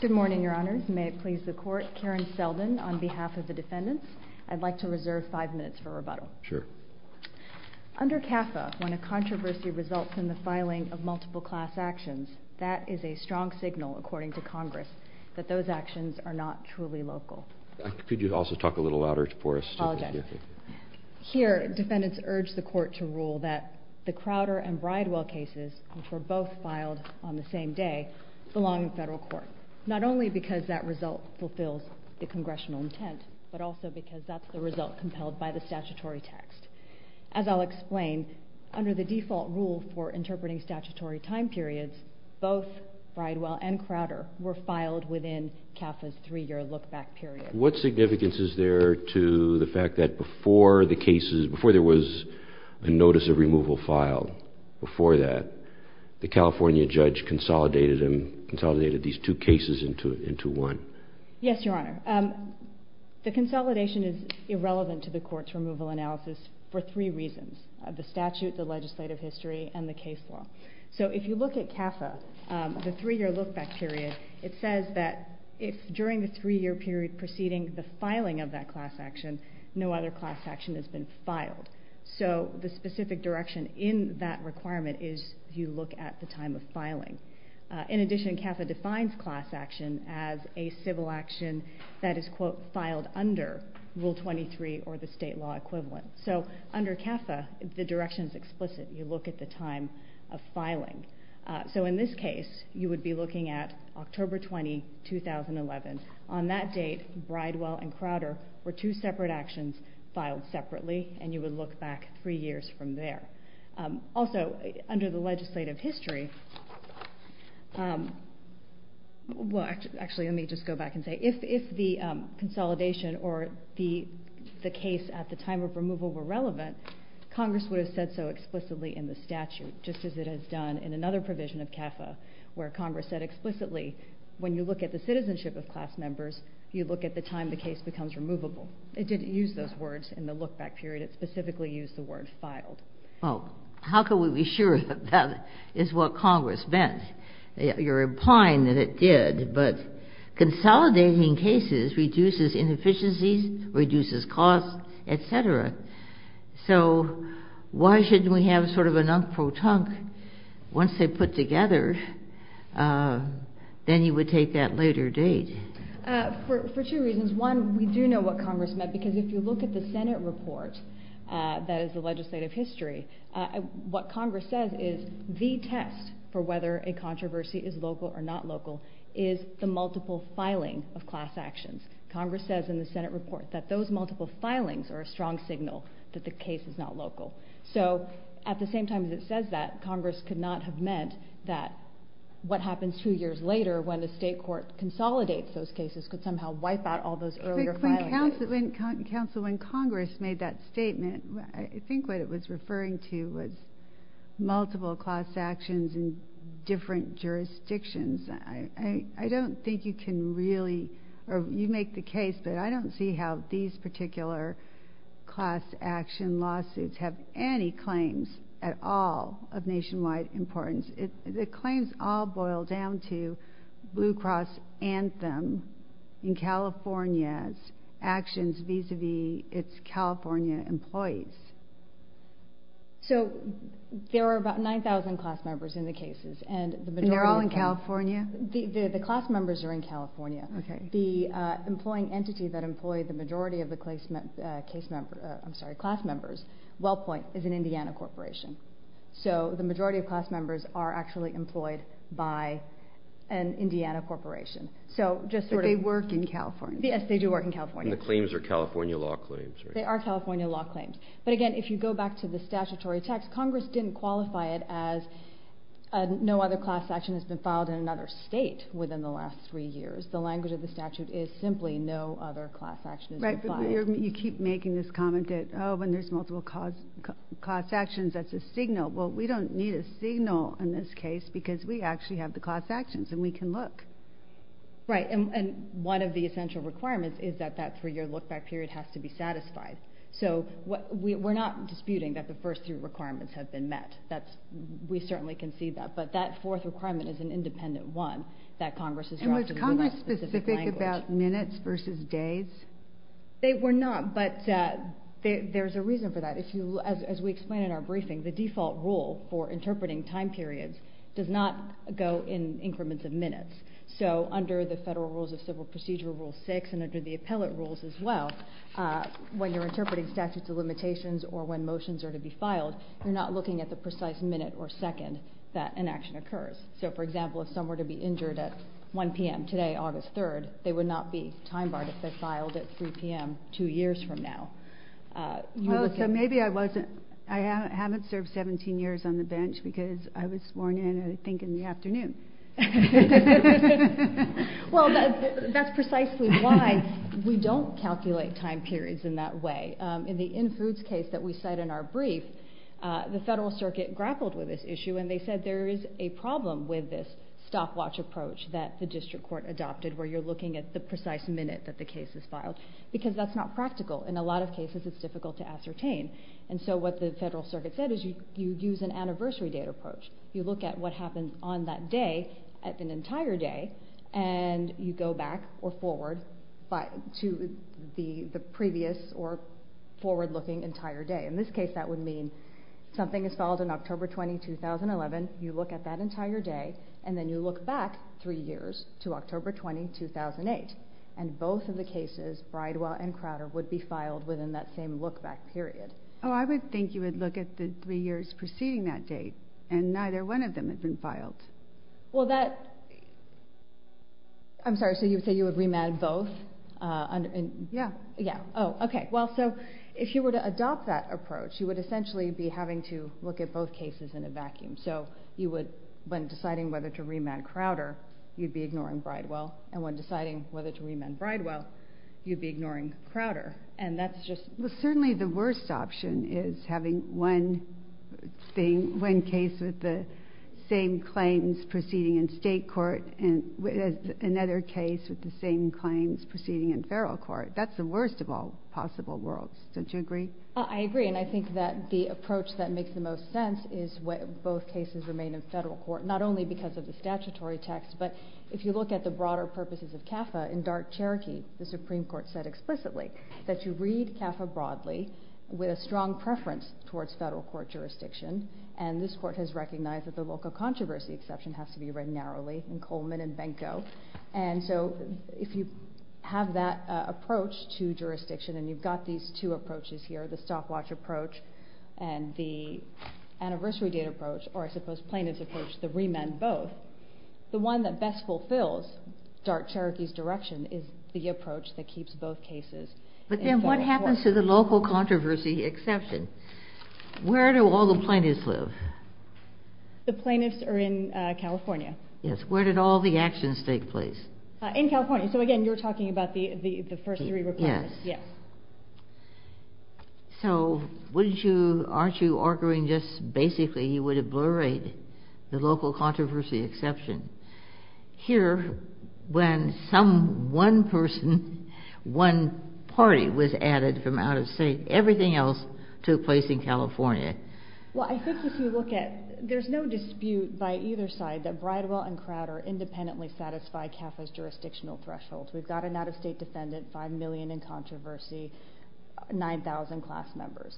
Good morning, Your Honors. May it please the Court, Karen Seldin on behalf of the defendants. I'd like to reserve five minutes for rebuttal. Sure. Under CAFA, when a controversy results in the filing of multiple class actions, that is a strong signal, according to Congress, that those actions are not truly local. Could you also talk a little louder for us? Here, defendants urge the Court to rule that the Crowder and Bridewell cases, which were both filed on the same day, belong in federal court. Not only because that result fulfills the Congressional intent, but also because that's the result compelled by the statutory text. As I'll explain, under the default rule for interpreting statutory time periods, both Bridewell and Crowder were filed within CAFA's three-year look-back period. What significance is there to the fact that before there was a notice of removal filed, before that, the California judge consolidated these two cases into one? Yes, Your Honor. The consolidation is irrelevant to the Court's removal analysis for three reasons, the statute, the legislative history, and the case law. If you look at CAFA, the three-year look-back period, it says that if during the three-year period preceding the filing of that class action, no other class action has been filed. The specific direction in that requirement is you look at the time of filing. In addition, CAFA defines class action as a civil action that is, quote, filed under Rule 23 or the state law equivalent. Under CAFA, the direction is explicit. You look at the time of filing. In this case, you would be looking at October 20, 2011. On that date, Bridewell and Crowder were two separate actions filed separately, and you would look back three years from there. Also, under the legislative history, well, actually, let me just go back and say, if the consolidation or the case at the time of removal were relevant, Congress would have said so explicitly in the statute, just as it has done in another provision of CAFA where Congress said explicitly, when you look at the citizenship of class members, you look at the time the case becomes removable. It didn't use those words in the look-back period. It specifically used the word filed. Well, how can we be sure that that is what Congress meant? You're implying that it did, but consolidating cases reduces inefficiencies, reduces costs, et cetera. So why shouldn't we have sort of a non-pro-tunc once they're put together? Then you would take that later date. For two reasons. One, we do know what Congress meant, because if you look at the Senate report that is the legislative history, what Congress says is the test for whether a controversy is local or not local is the multiple filing of class actions. Congress says in the Senate report that those multiple filings are a strong signal that the case is not local. So at the same time that it says that, Congress could not have meant that what happens two years later when the state court consolidates those cases could somehow wipe out all those earlier filings. Counsel, when Congress made that statement, I think what it was referring to was multiple class actions in different jurisdictions. I don't think you can really, or you make the case, but I don't see how these particular class action lawsuits have any claims at all of nationwide importance. The claims all boil down to Blue Cross Anthem in California's actions vis-a-vis its California employees. So there are about 9,000 class members in the cases. And they're all in California? The class members are in California. The employing entity that employed the majority of the class members, WellPoint, is an Indiana corporation. So the majority of class members are actually employed by an Indiana corporation. But they work in California? Yes, they do work in California. And the claims are California law claims? They are California law claims. But again, if you go back to the statutory text, Congress didn't qualify it as no other class action has been filed in another state within the last three years. The language of the statute is simply no other class action has been filed. Right, but you keep making this comment that, oh, when there's multiple class actions, that's a signal. Well, we don't need a signal in this case because we actually have the class actions, and we can look. Right, and one of the essential requirements is that that three-year look-back period has to be satisfied. So we're not disputing that the first three requirements have been met. We certainly can see that. But that fourth requirement is an independent one that Congress has drafted. And was Congress specific about minutes versus days? They were not, but there's a reason for that. As we explained in our briefing, the default rule for interpreting time periods does not go in increments of minutes. So under the Federal Rules of Civil Procedure, Rule 6, and under the appellate rules as well, when you're interpreting statutes of limitations or when motions are to be filed, you're not looking at the precise minute or second that an action occurs. So, for example, if someone were to be injured at 1 p.m. today, August 3rd, they would not be time-barred if they're filed at 3 p.m. two years from now. Well, so maybe I haven't served 17 years on the bench because I was sworn in, I think, in the afternoon. Well, that's precisely why we don't calculate time periods in that way. In the in-foods case that we cite in our brief, the Federal Circuit grappled with this issue, and they said there is a problem with this stopwatch approach that the district court adopted where you're looking at the precise minute that the case is filed because that's not practical. In a lot of cases, it's difficult to ascertain. And so what the Federal Circuit said is you use an anniversary date approach. You look at what happened on that day, an entire day, and you go back or forward to the previous or forward-looking entire day. In this case, that would mean something is filed in October 20, 2011. You look at that entire day, and then you look back three years to October 20, 2008, and both of the cases, Bridewell and Crowder, would be filed within that same look-back period. Oh, I would think you would look at the three years preceding that date, and neither one of them had been filed. Well, that—I'm sorry, so you would say you would remand both? Yeah. Yeah. Oh, okay. Well, so if you were to adopt that approach, you would essentially be having to look at both cases in a vacuum. So you would, when deciding whether to remand Crowder, you'd be ignoring Bridewell, and when deciding whether to remand Bridewell, you'd be ignoring Crowder. And that's just— Well, certainly the worst option is having one case with the same claims proceeding in state court and another case with the same claims proceeding in federal court. That's the worst of all possible worlds. Don't you agree? I agree, and I think that the approach that makes the most sense is when both cases remain in federal court, not only because of the statutory text, but if you look at the broader purposes of CAFA, in dark Cherokee, the Supreme Court said explicitly that you read CAFA broadly with a strong preference towards federal court jurisdiction, and this court has recognized that the local controversy exception has to be read narrowly in Coleman and Benko. And so if you have that approach to jurisdiction, and you've got these two approaches here, the stopwatch approach and the anniversary date approach, or I suppose plaintiff's approach to remand both, the one that best fulfills dark Cherokee's direction is the approach that keeps both cases in federal court. But then what happens to the local controversy exception? Where do all the plaintiffs live? The plaintiffs are in California. Yes. Where did all the actions take place? In California. So again, you're talking about the first three requirements. Yes. Yes. So wouldn't you, aren't you arguing just basically you would have blu-rayed the local controversy exception? Here, when some one person, one party was added from out of state, everything else took place in California. Well, I think if you look at, there's no dispute by either side that Bridewell and Crowder independently satisfy CAFA's jurisdictional thresholds. We've got an out of state defendant, 5 million in controversy, 9,000 class members.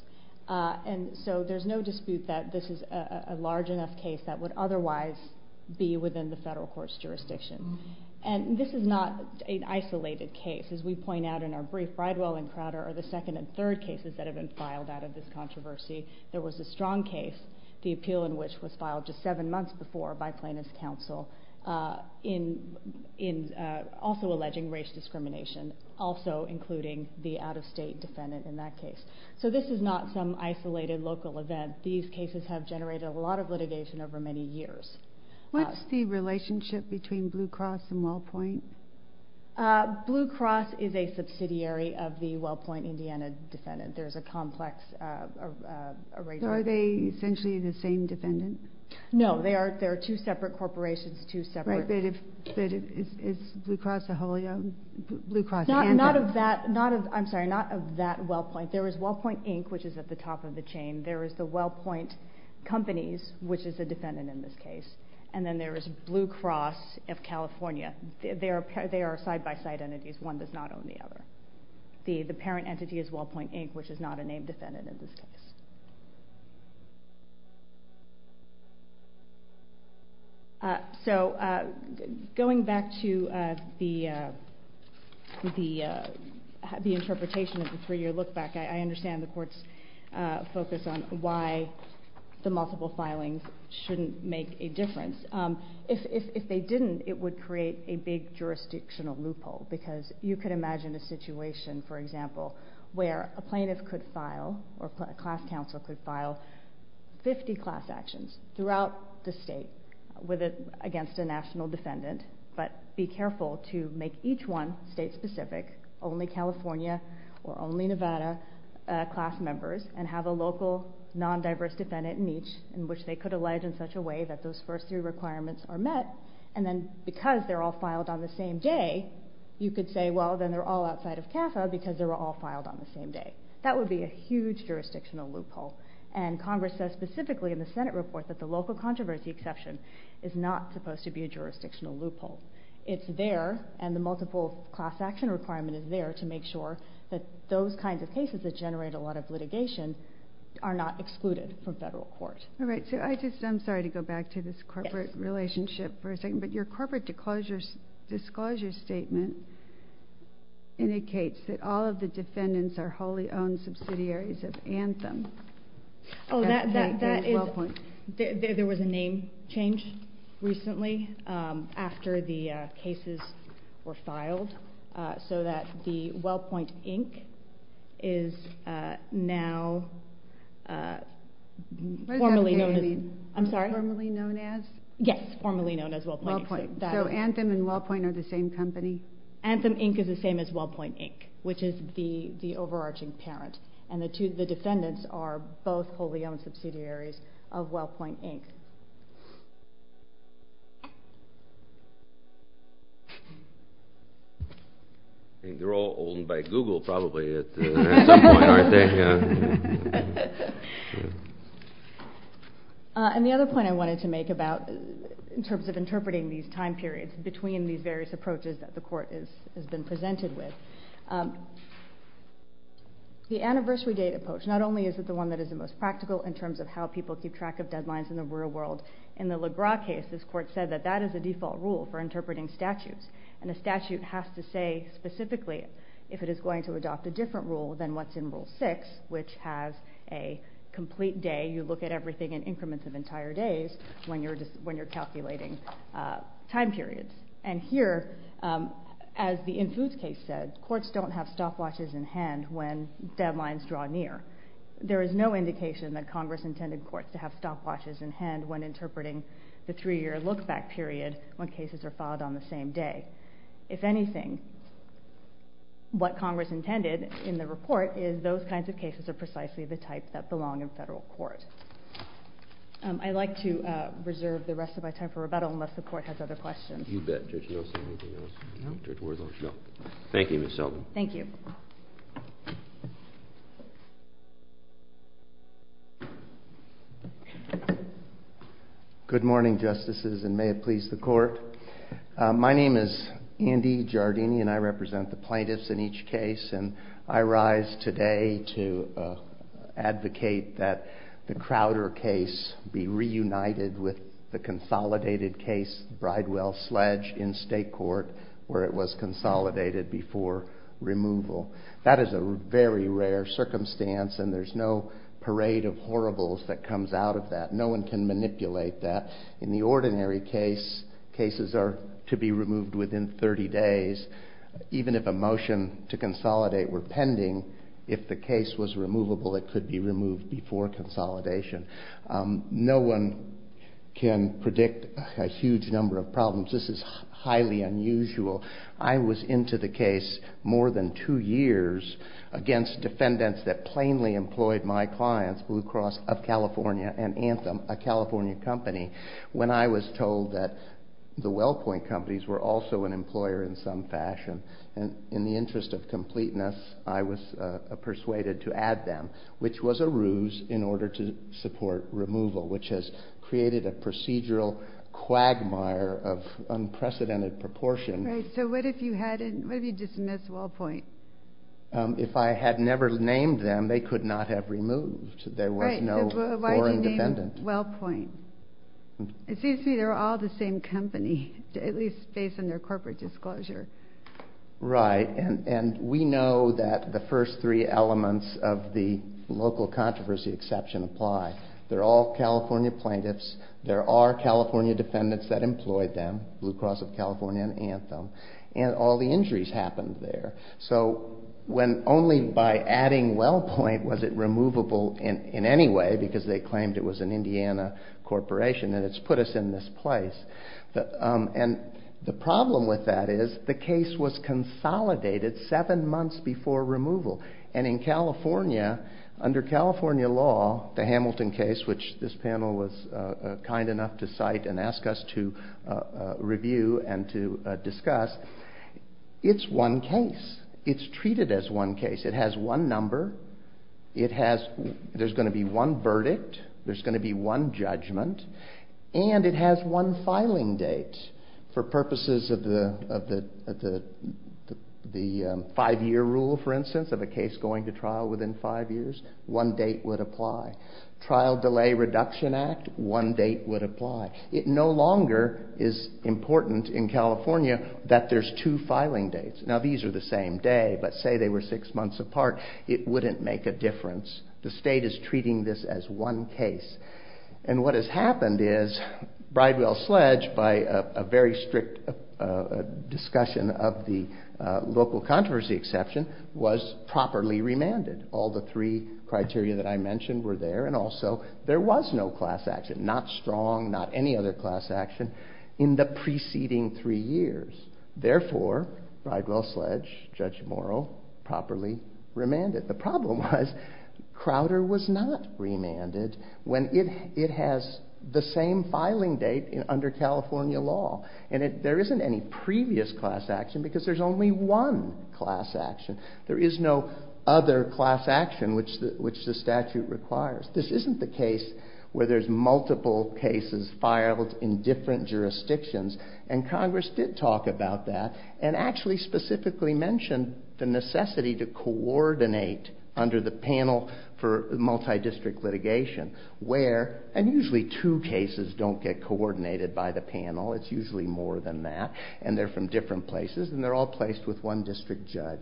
And so there's no dispute that this is a large enough case that would otherwise be within the federal court's jurisdiction. And this is not an isolated case. As we point out in our brief, Bridewell and Crowder are the second and third cases that have been filed out of this controversy. There was a strong case, the appeal in which was filed just seven months before by plaintiff's counsel, also alleging race discrimination, also including the out of state defendant in that case. So this is not some isolated local event. These cases have generated a lot of litigation over many years. What's the relationship between Blue Cross and Wellpoint? Blue Cross is a subsidiary of the Wellpoint, Indiana defendant. There's a complex arrangement. So are they essentially the same defendant? No, they are two separate corporations, two separate. Right, but is Blue Cross a wholly owned? Not of that, I'm sorry, not of that Wellpoint. There is Wellpoint, Inc., which is at the top of the chain. There is the Wellpoint Companies, which is a defendant in this case. And then there is Blue Cross of California. They are side-by-side entities. One does not own the other. The parent entity is Wellpoint, Inc., which is not a named defendant in this case. So going back to the interpretation of the three-year look-back, I understand the court's focus on why the multiple filings shouldn't make a difference. If they didn't, it would create a big jurisdictional loophole because you could imagine a situation, for example, where a plaintiff could file, or a class counsel could file, 50 class actions throughout the state against a national defendant, but be careful to make each one state-specific, only California or only Nevada class members, and have a local non-diverse defendant in each in which they could allege in such a way that those first three requirements are met. And then because they're all filed on the same day, you could say, well, then they're all outside of CAFA because they were all filed on the same day. That would be a huge jurisdictional loophole. And Congress says specifically in the Senate report that the local controversy exception is not supposed to be a jurisdictional loophole. It's there, and the multiple class action requirement is there to make sure that those kinds of cases that generate a lot of litigation are not excluded from federal court. All right. I'm sorry to go back to this corporate relationship for a second, but your corporate disclosure statement indicates that all of the defendants are wholly owned subsidiaries of Anthem. Oh, that is... So that the Wellpoint, Inc. is now formally known as... What does that say? I'm sorry? Formally known as? Yes, formally known as Wellpoint, Inc. So Anthem and Wellpoint are the same company? Anthem, Inc. is the same as Wellpoint, Inc., which is the overarching parent, and the defendants are both wholly owned subsidiaries of Wellpoint, Inc. I think they're all owned by Google probably at some point, aren't they? And the other point I wanted to make about, in terms of interpreting these time periods between these various approaches that the court has been presented with, the anniversary date approach, not only is it the one that is the most practical in terms of how people keep track of deadlines in the real world, in the Legra case, this court said that that is a default rule for interpreting statutes, and a statute has to say specifically if it is going to adopt a different rule than what's in Rule 6, which has a complete day, you look at everything in increments of entire days when you're calculating time periods. And here, as the Infuse case said, courts don't have stopwatches in hand when deadlines draw near. There is no indication that Congress intended courts to have stopwatches in hand when interpreting the three-year look-back period when cases are filed on the same day. If anything, what Congress intended in the report is those kinds of cases are precisely the type that belong in federal court. I'd like to reserve the rest of my time for rebuttal unless the court has other questions. You bet. Judge Nelson, anything else? No. Thank you, Ms. Selden. Thank you. Good morning, Justices, and may it please the Court. My name is Andy Giardini, and I represent the plaintiffs in each case, and I rise today to advocate that the Crowder case be reunited with the consolidated case, Bridewell-Sledge, in state court, where it was consolidated before removal. That is a very rare circumstance, and there's no parade of horribles that comes out of that. No one can manipulate that. In the ordinary case, cases are to be removed within 30 days. Even if a motion to consolidate were pending, if the case was removable, it could be removed before consolidation. No one can predict a huge number of problems. This is highly unusual. I was into the case more than 2 years against defendants that plainly employed my clients, Blue Cross of California and Anthem, a California company, when I was told that the WellPoint companies were also an employer in some fashion. In the interest of completeness, I was persuaded to add them, which was a ruse in order to support removal, which has created a procedural quagmire of unprecedented proportion. So what if you had dismissed WellPoint? If I had never named them, they could not have removed. There was no foreign defendant. Why did you name WellPoint? It seems to me they're all the same company, at least based on their corporate disclosure. Right, and we know that the first three elements of the local controversy exception apply. They're all California plaintiffs. There are California defendants that employed them, Blue Cross of California and Anthem, and all the injuries happened there. So when only by adding WellPoint was it removable in any way, because they claimed it was an Indiana corporation and it's put us in this place. And the problem with that is the case was consolidated seven months before removal. And in California, under California law, the Hamilton case, which this panel was kind enough to cite and ask us to review and to discuss, it's one case. It's treated as one case. It has one number. There's going to be one verdict. There's going to be one judgment. And it has one filing date. For purposes of the five-year rule, for instance, of a case going to trial within five years, one date would apply. Trial Delay Reduction Act, one date would apply. It no longer is important in California that there's two filing dates. Now, these are the same day, but say they were six months apart, it wouldn't make a difference. The state is treating this as one case. And what has happened is Bridewell-Sledge, by a very strict discussion of the local controversy exception, was properly remanded. All the three criteria that I mentioned were there, and also there was no class action, not strong, not any other class action, in the preceding three years. Therefore, Bridewell-Sledge, Judge Morrow, properly remanded. The problem was Crowder was not remanded when it has the same filing date under California law. And there isn't any previous class action because there's only one class action. There is no other class action which the statute requires. This isn't the case where there's multiple cases filed in different jurisdictions. And Congress did talk about that and actually specifically mentioned the necessity to coordinate under the panel for multi-district litigation where, and usually two cases don't get coordinated by the panel, it's usually more than that, and they're from different places, and they're all placed with one district judge.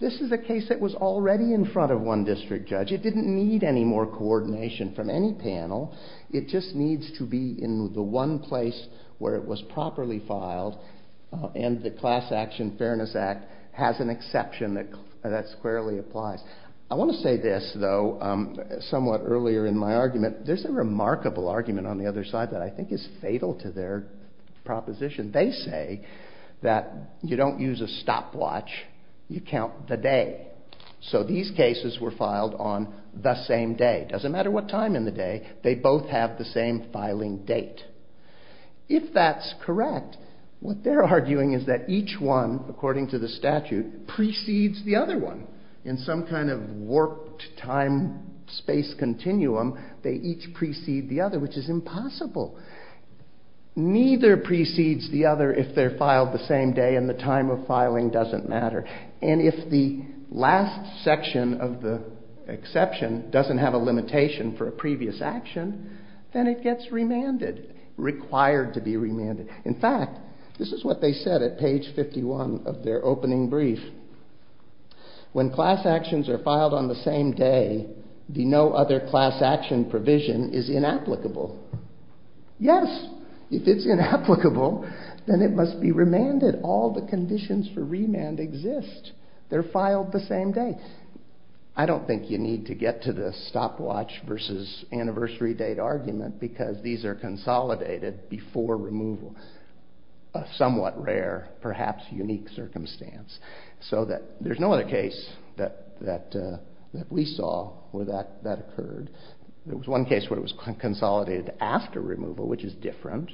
This is a case that was already in front of one district judge. It didn't need any more coordination from any panel. It just needs to be in the one place where it was properly filed, and the Class Action Fairness Act has an exception that squarely applies. I want to say this, though, somewhat earlier in my argument, there's a remarkable argument on the other side that I think is fatal to their proposition. They say that you don't use a stopwatch, you count the day. So these cases were filed on the same day. It doesn't matter what time in the day. They both have the same filing date. If that's correct, what they're arguing is that each one, according to the statute, precedes the other one. In some kind of warped time-space continuum, they each precede the other, which is impossible. Neither precedes the other if they're filed the same day and the time of filing doesn't matter. And if the last section of the exception doesn't have a limitation for a previous action, then it gets remanded, required to be remanded. In fact, this is what they said at page 51 of their opening brief. When class actions are filed on the same day, the no other class action provision is inapplicable. Yes, if it's inapplicable, then it must be remanded. All the conditions for remand exist. They're filed the same day. I don't think you need to get to the stopwatch versus anniversary date argument because these are consolidated before removal. A somewhat rare, perhaps unique circumstance. So there's no other case that we saw where that occurred. There was one case where it was consolidated after removal, which is different.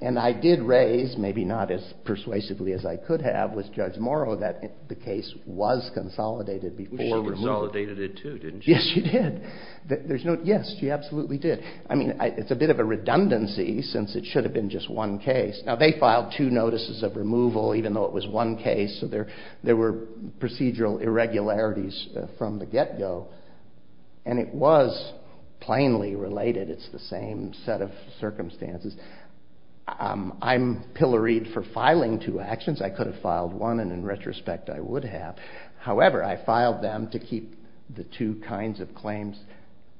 And I did raise, maybe not as persuasively as I could have, but that was Judge Morrow that the case was consolidated before removal. She consolidated it too, didn't she? Yes, she did. Yes, she absolutely did. I mean, it's a bit of a redundancy since it should have been just one case. Now, they filed two notices of removal even though it was one case, so there were procedural irregularities from the get-go. And it was plainly related. It's the same set of circumstances. I'm pilloried for filing two actions. I could have filed one, and in retrospect, I would have. However, I filed them to keep the two kinds of claims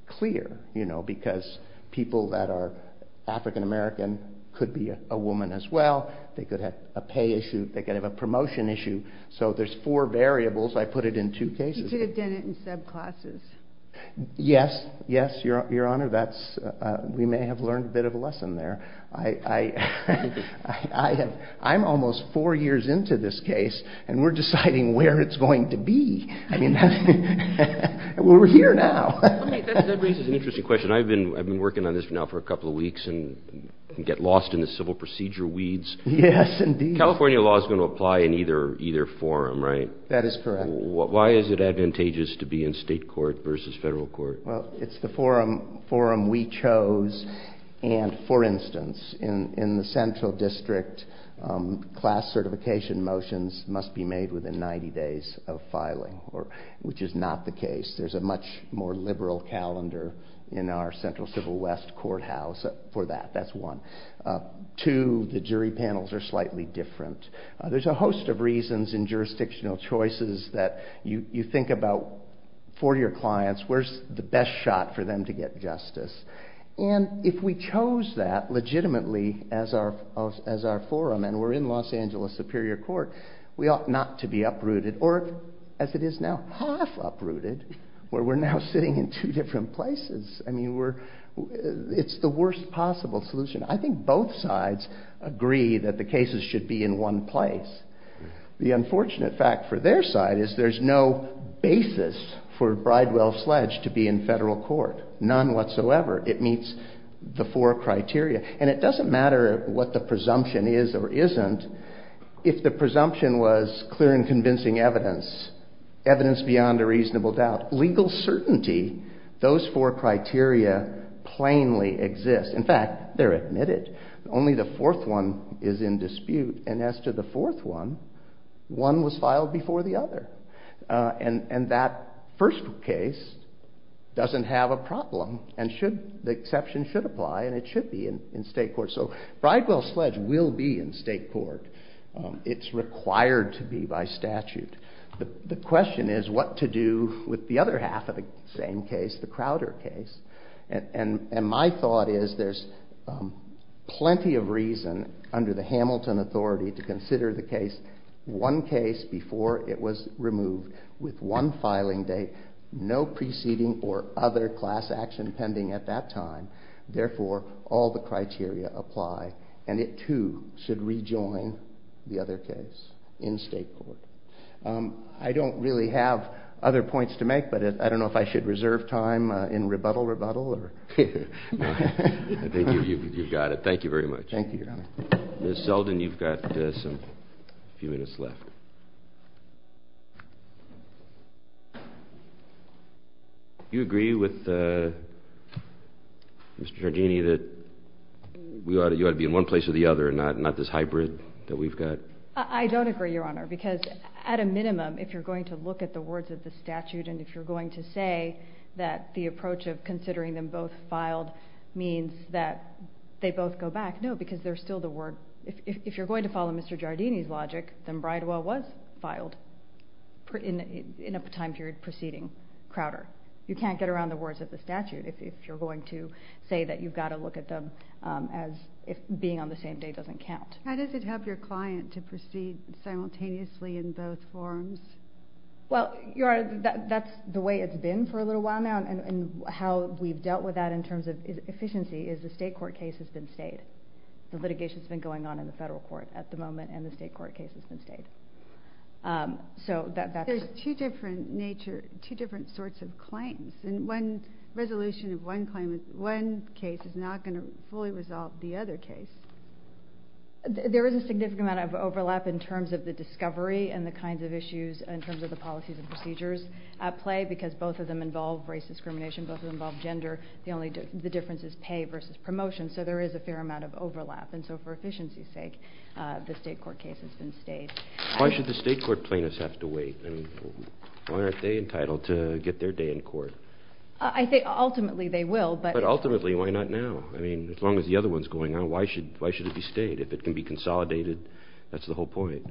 clear because people that are African American could be a woman as well. They could have a pay issue. They could have a promotion issue. So there's four variables. I put it in two cases. You could have done it in subclasses. Yes, yes, Your Honor. We may have learned a bit of a lesson there. I'm almost four years into this case, and we're deciding where it's going to be. I mean, we're here now. Okay, that raises an interesting question. I've been working on this now for a couple of weeks and get lost in the civil procedure weeds. Yes, indeed. California law is going to apply in either forum, right? That is correct. Why is it advantageous to be in state court versus federal court? Well, it's the forum we chose. And, for instance, in the Central District, class certification motions must be made within 90 days of filing, which is not the case. There's a much more liberal calendar in our Central Civil West courthouse for that. That's one. Two, the jury panels are slightly different. There's a host of reasons in jurisdictional choices that you think about for your clients. Where's the best shot for them to get justice? And if we chose that legitimately as our forum, and we're in Los Angeles Superior Court, we ought not to be uprooted. Or, as it is now, half uprooted, where we're now sitting in two different places. I mean, it's the worst possible solution. I think both sides agree that the cases should be in one place. The unfortunate fact for their side is there's no basis for Bridewell Sledge to be in federal court, none whatsoever. It meets the four criteria. And it doesn't matter what the presumption is or isn't. If the presumption was clear and convincing evidence, evidence beyond a reasonable doubt, legal certainty, those four criteria plainly exist. In fact, they're admitted. Only the fourth one is in dispute. And as to the fourth one, one was filed before the other. And that first case doesn't have a problem. And the exception should apply. And it should be in state court. So Bridewell Sledge will be in state court. It's required to be by statute. The question is what to do with the other half of the same case, the Crowder case. And my thought is there's plenty of reason, under the Hamilton authority, to consider the case, one case before it was removed, with one filing date, no preceding or other class action pending at that time. Therefore, all the criteria apply. And it, too, should rejoin the other case in state court. I don't really have other points to make, but I don't know if I should reserve time in rebuttal, rebuttal. I think you've got it. Thank you very much. Thank you, Your Honor. Ms. Zeldin, you've got a few minutes left. Do you agree with Mr. Giardini that you ought to be in one place or the other and not this hybrid that we've got? I don't agree, Your Honor, because at a minimum, if you're going to look at the words of the statute and if you're going to say that the approach of considering them both filed means that they both go back, no, because they're still the word. If you're going to follow Mr. Giardini's logic, then Bridewell was filed in a time period preceding Crowder. You can't get around the words of the statute if you're going to say that you've got to look at them as if being on the same date doesn't count. How does it help your client to proceed simultaneously in both forms? Well, Your Honor, that's the way it's been for a little while now, and how we've dealt with that in terms of efficiency is the state court case has been stayed. The litigation has been going on in the federal court at the moment, and the state court case has been stayed. There's two different sorts of claims, and one resolution of one claim is one case is not going to fully resolve the other case. There is a significant amount of overlap in terms of the discovery and the kinds of issues in terms of the policies and procedures at play because both of them involve race discrimination, both of them involve gender. The difference is pay versus promotion, so there is a fair amount of overlap, and so for efficiency's sake, the state court case has been stayed. Why should the state court plaintiffs have to wait? Why aren't they entitled to get their day in court? Ultimately, they will, but... But ultimately, why not now? As long as the other one's going on, why should it be stayed? If it can be consolidated, that's the whole point.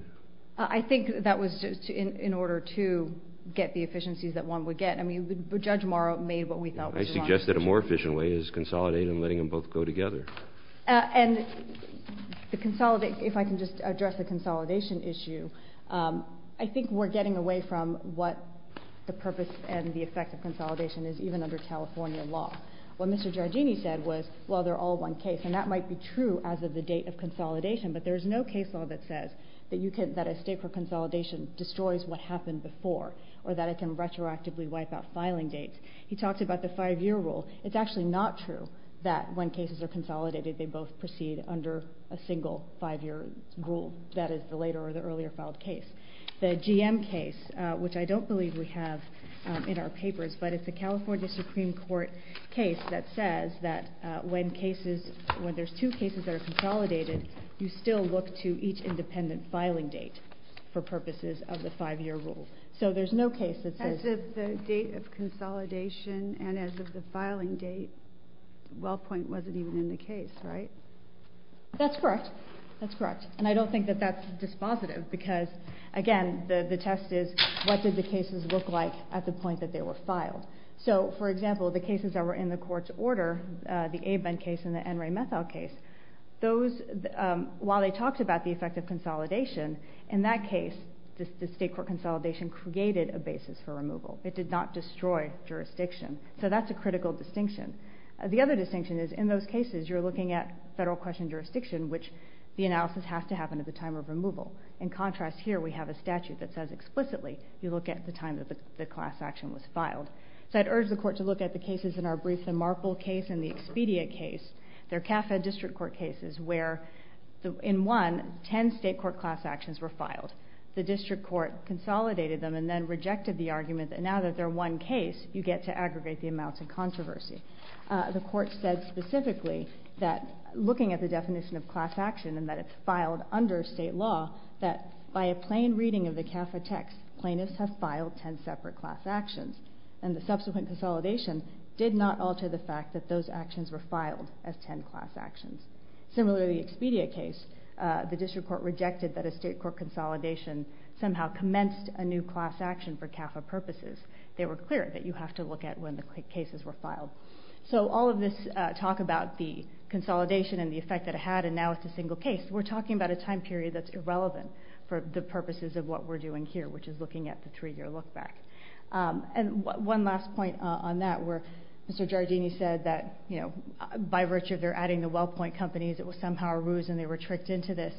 I think that was in order to get the efficiencies that one would get. I mean, Judge Morrow made what we thought was the wrong decision. I suggest that a more efficient way is consolidate and letting them both go together. And if I can just address the consolidation issue, I think we're getting away from what the purpose and the effect of consolidation is even under California law. What Mr. Giardini said was, well, they're all one case, and that might be true as of the date of consolidation, but there is no case law that says that a state court consolidation destroys what happened before or that it can retroactively wipe out filing dates. He talked about the 5-year rule. It's actually not true that when cases are consolidated, they both proceed under a single 5-year rule. That is the later or the earlier filed case. The GM case, which I don't believe we have in our papers, but it's a California Supreme Court case that says that when there's two cases that are consolidated, you still look to each independent filing date for purposes of the 5-year rule. So there's no case that says... As of the date of consolidation and as of the filing date, WellPoint wasn't even in the case, right? That's correct. That's correct. And I don't think that that's dispositive because, again, the test is what did the cases look like at the point that they were filed. So, for example, the cases that were in the court's order, the Abend case and the N. Ray Methow case, while they talked about the effect of consolidation, in that case, the state court consolidation created a basis for removal. It did not destroy jurisdiction. So that's a critical distinction. The other distinction is, in those cases, you're looking at federal question jurisdiction, which the analysis has to happen at the time of removal. In contrast, here we have a statute that says explicitly you look at the time that the class action was filed. So I'd urge the court to look at the cases in our Brisa-Marple case and the Expedia case. They're CAFED district court cases where, in one, 10 state court class actions were filed. The district court consolidated them and then rejected the argument that now that they're one case, you get to aggregate the amounts of controversy. The court said specifically that, looking at the definition of class action and that it's filed under state law, that by a plain reading of the CAFED text, plaintiffs have filed 10 separate class actions. And the subsequent consolidation did not alter the fact that those actions were filed as 10 class actions. Similarly, the Expedia case, the district court rejected that a state court consolidation somehow commenced a new class action for CAFED purposes. They were clear that you have to look at when the cases were filed. So all of this talk about the consolidation and the effect that it had, and now it's a single case, we're talking about a time period that's irrelevant for the purposes of what we're doing here, which is looking at the 3-year look-back. And one last point on that, where Mr. Giardini said that, you know, by virtue of their adding the Wellpoint companies, it was somehow a ruse and they were tricked into this.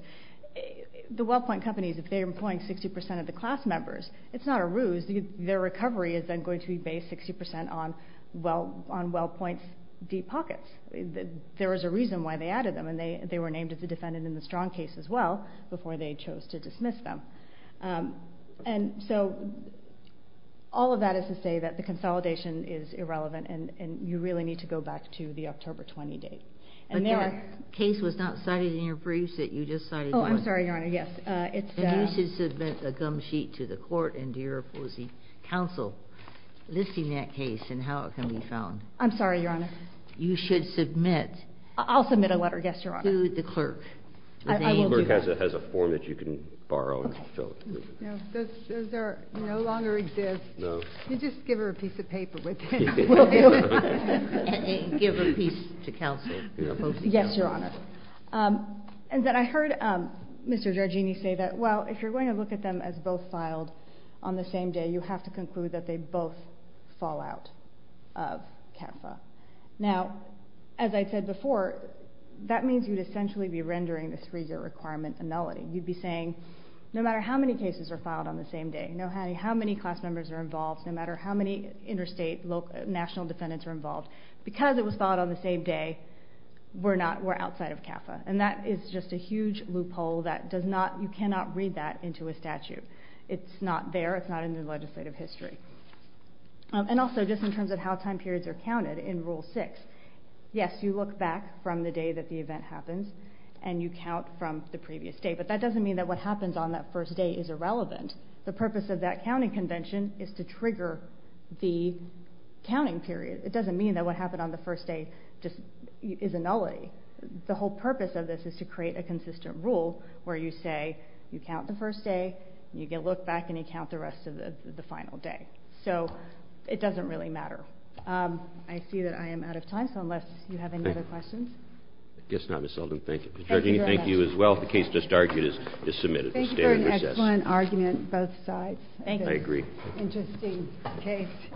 The Wellpoint companies, if they're employing 60% of the class members, it's not a ruse. Their recovery is then going to be based 60% on Wellpoint's deep pockets. There is a reason why they added them, and they were named as a defendant in the Strong case as well before they chose to dismiss them. And so all of that is to say that the consolidation is irrelevant and you really need to go back to the October 20 date. But that case was not cited in your briefs that you just cited. Oh, I'm sorry, Your Honor, yes. You should submit a gum sheet to the court and to your opposing counsel listing that case and how it can be found. I'm sorry, Your Honor. You should submit... I'll submit a letter, yes, Your Honor. ...to the clerk. The clerk has a form that you can borrow. No, those are no longer exist. You just give her a piece of paper with it. We'll do it. And give a piece to counsel. Yes, Your Honor. And then I heard Mr. Giorgini say that, well, if you're going to look at them as both filed on the same day, you have to conclude that they both fall out of CAFA. Now, as I said before, that means you'd essentially be rendering the three-year requirement a nullity. You'd be saying, no matter how many cases are filed on the same day, no matter how many class members are involved, no matter how many interstate national defendants are involved, because it was filed on the same day, we're outside of CAFA. And that is just a huge loophole that you cannot read that into a statute. It's not there. It's not in the legislative history. And also, just in terms of how time periods are counted in Rule 6, yes, you look back from the day that the event happens and you count from the previous day, but that doesn't mean that what happens on that first day is irrelevant. The purpose of that counting convention is to trigger the counting period. It doesn't mean that what happened on the first day is a nullity. The whole purpose of this is to create a consistent rule where you say you count the first day and you look back and you count the rest of the final day. So it doesn't really matter. I see that I am out of time, so unless you have any other questions... I guess not, Ms. Selden. Thank you. Thank you very much. Thank you for an excellent argument on both sides. Thank you.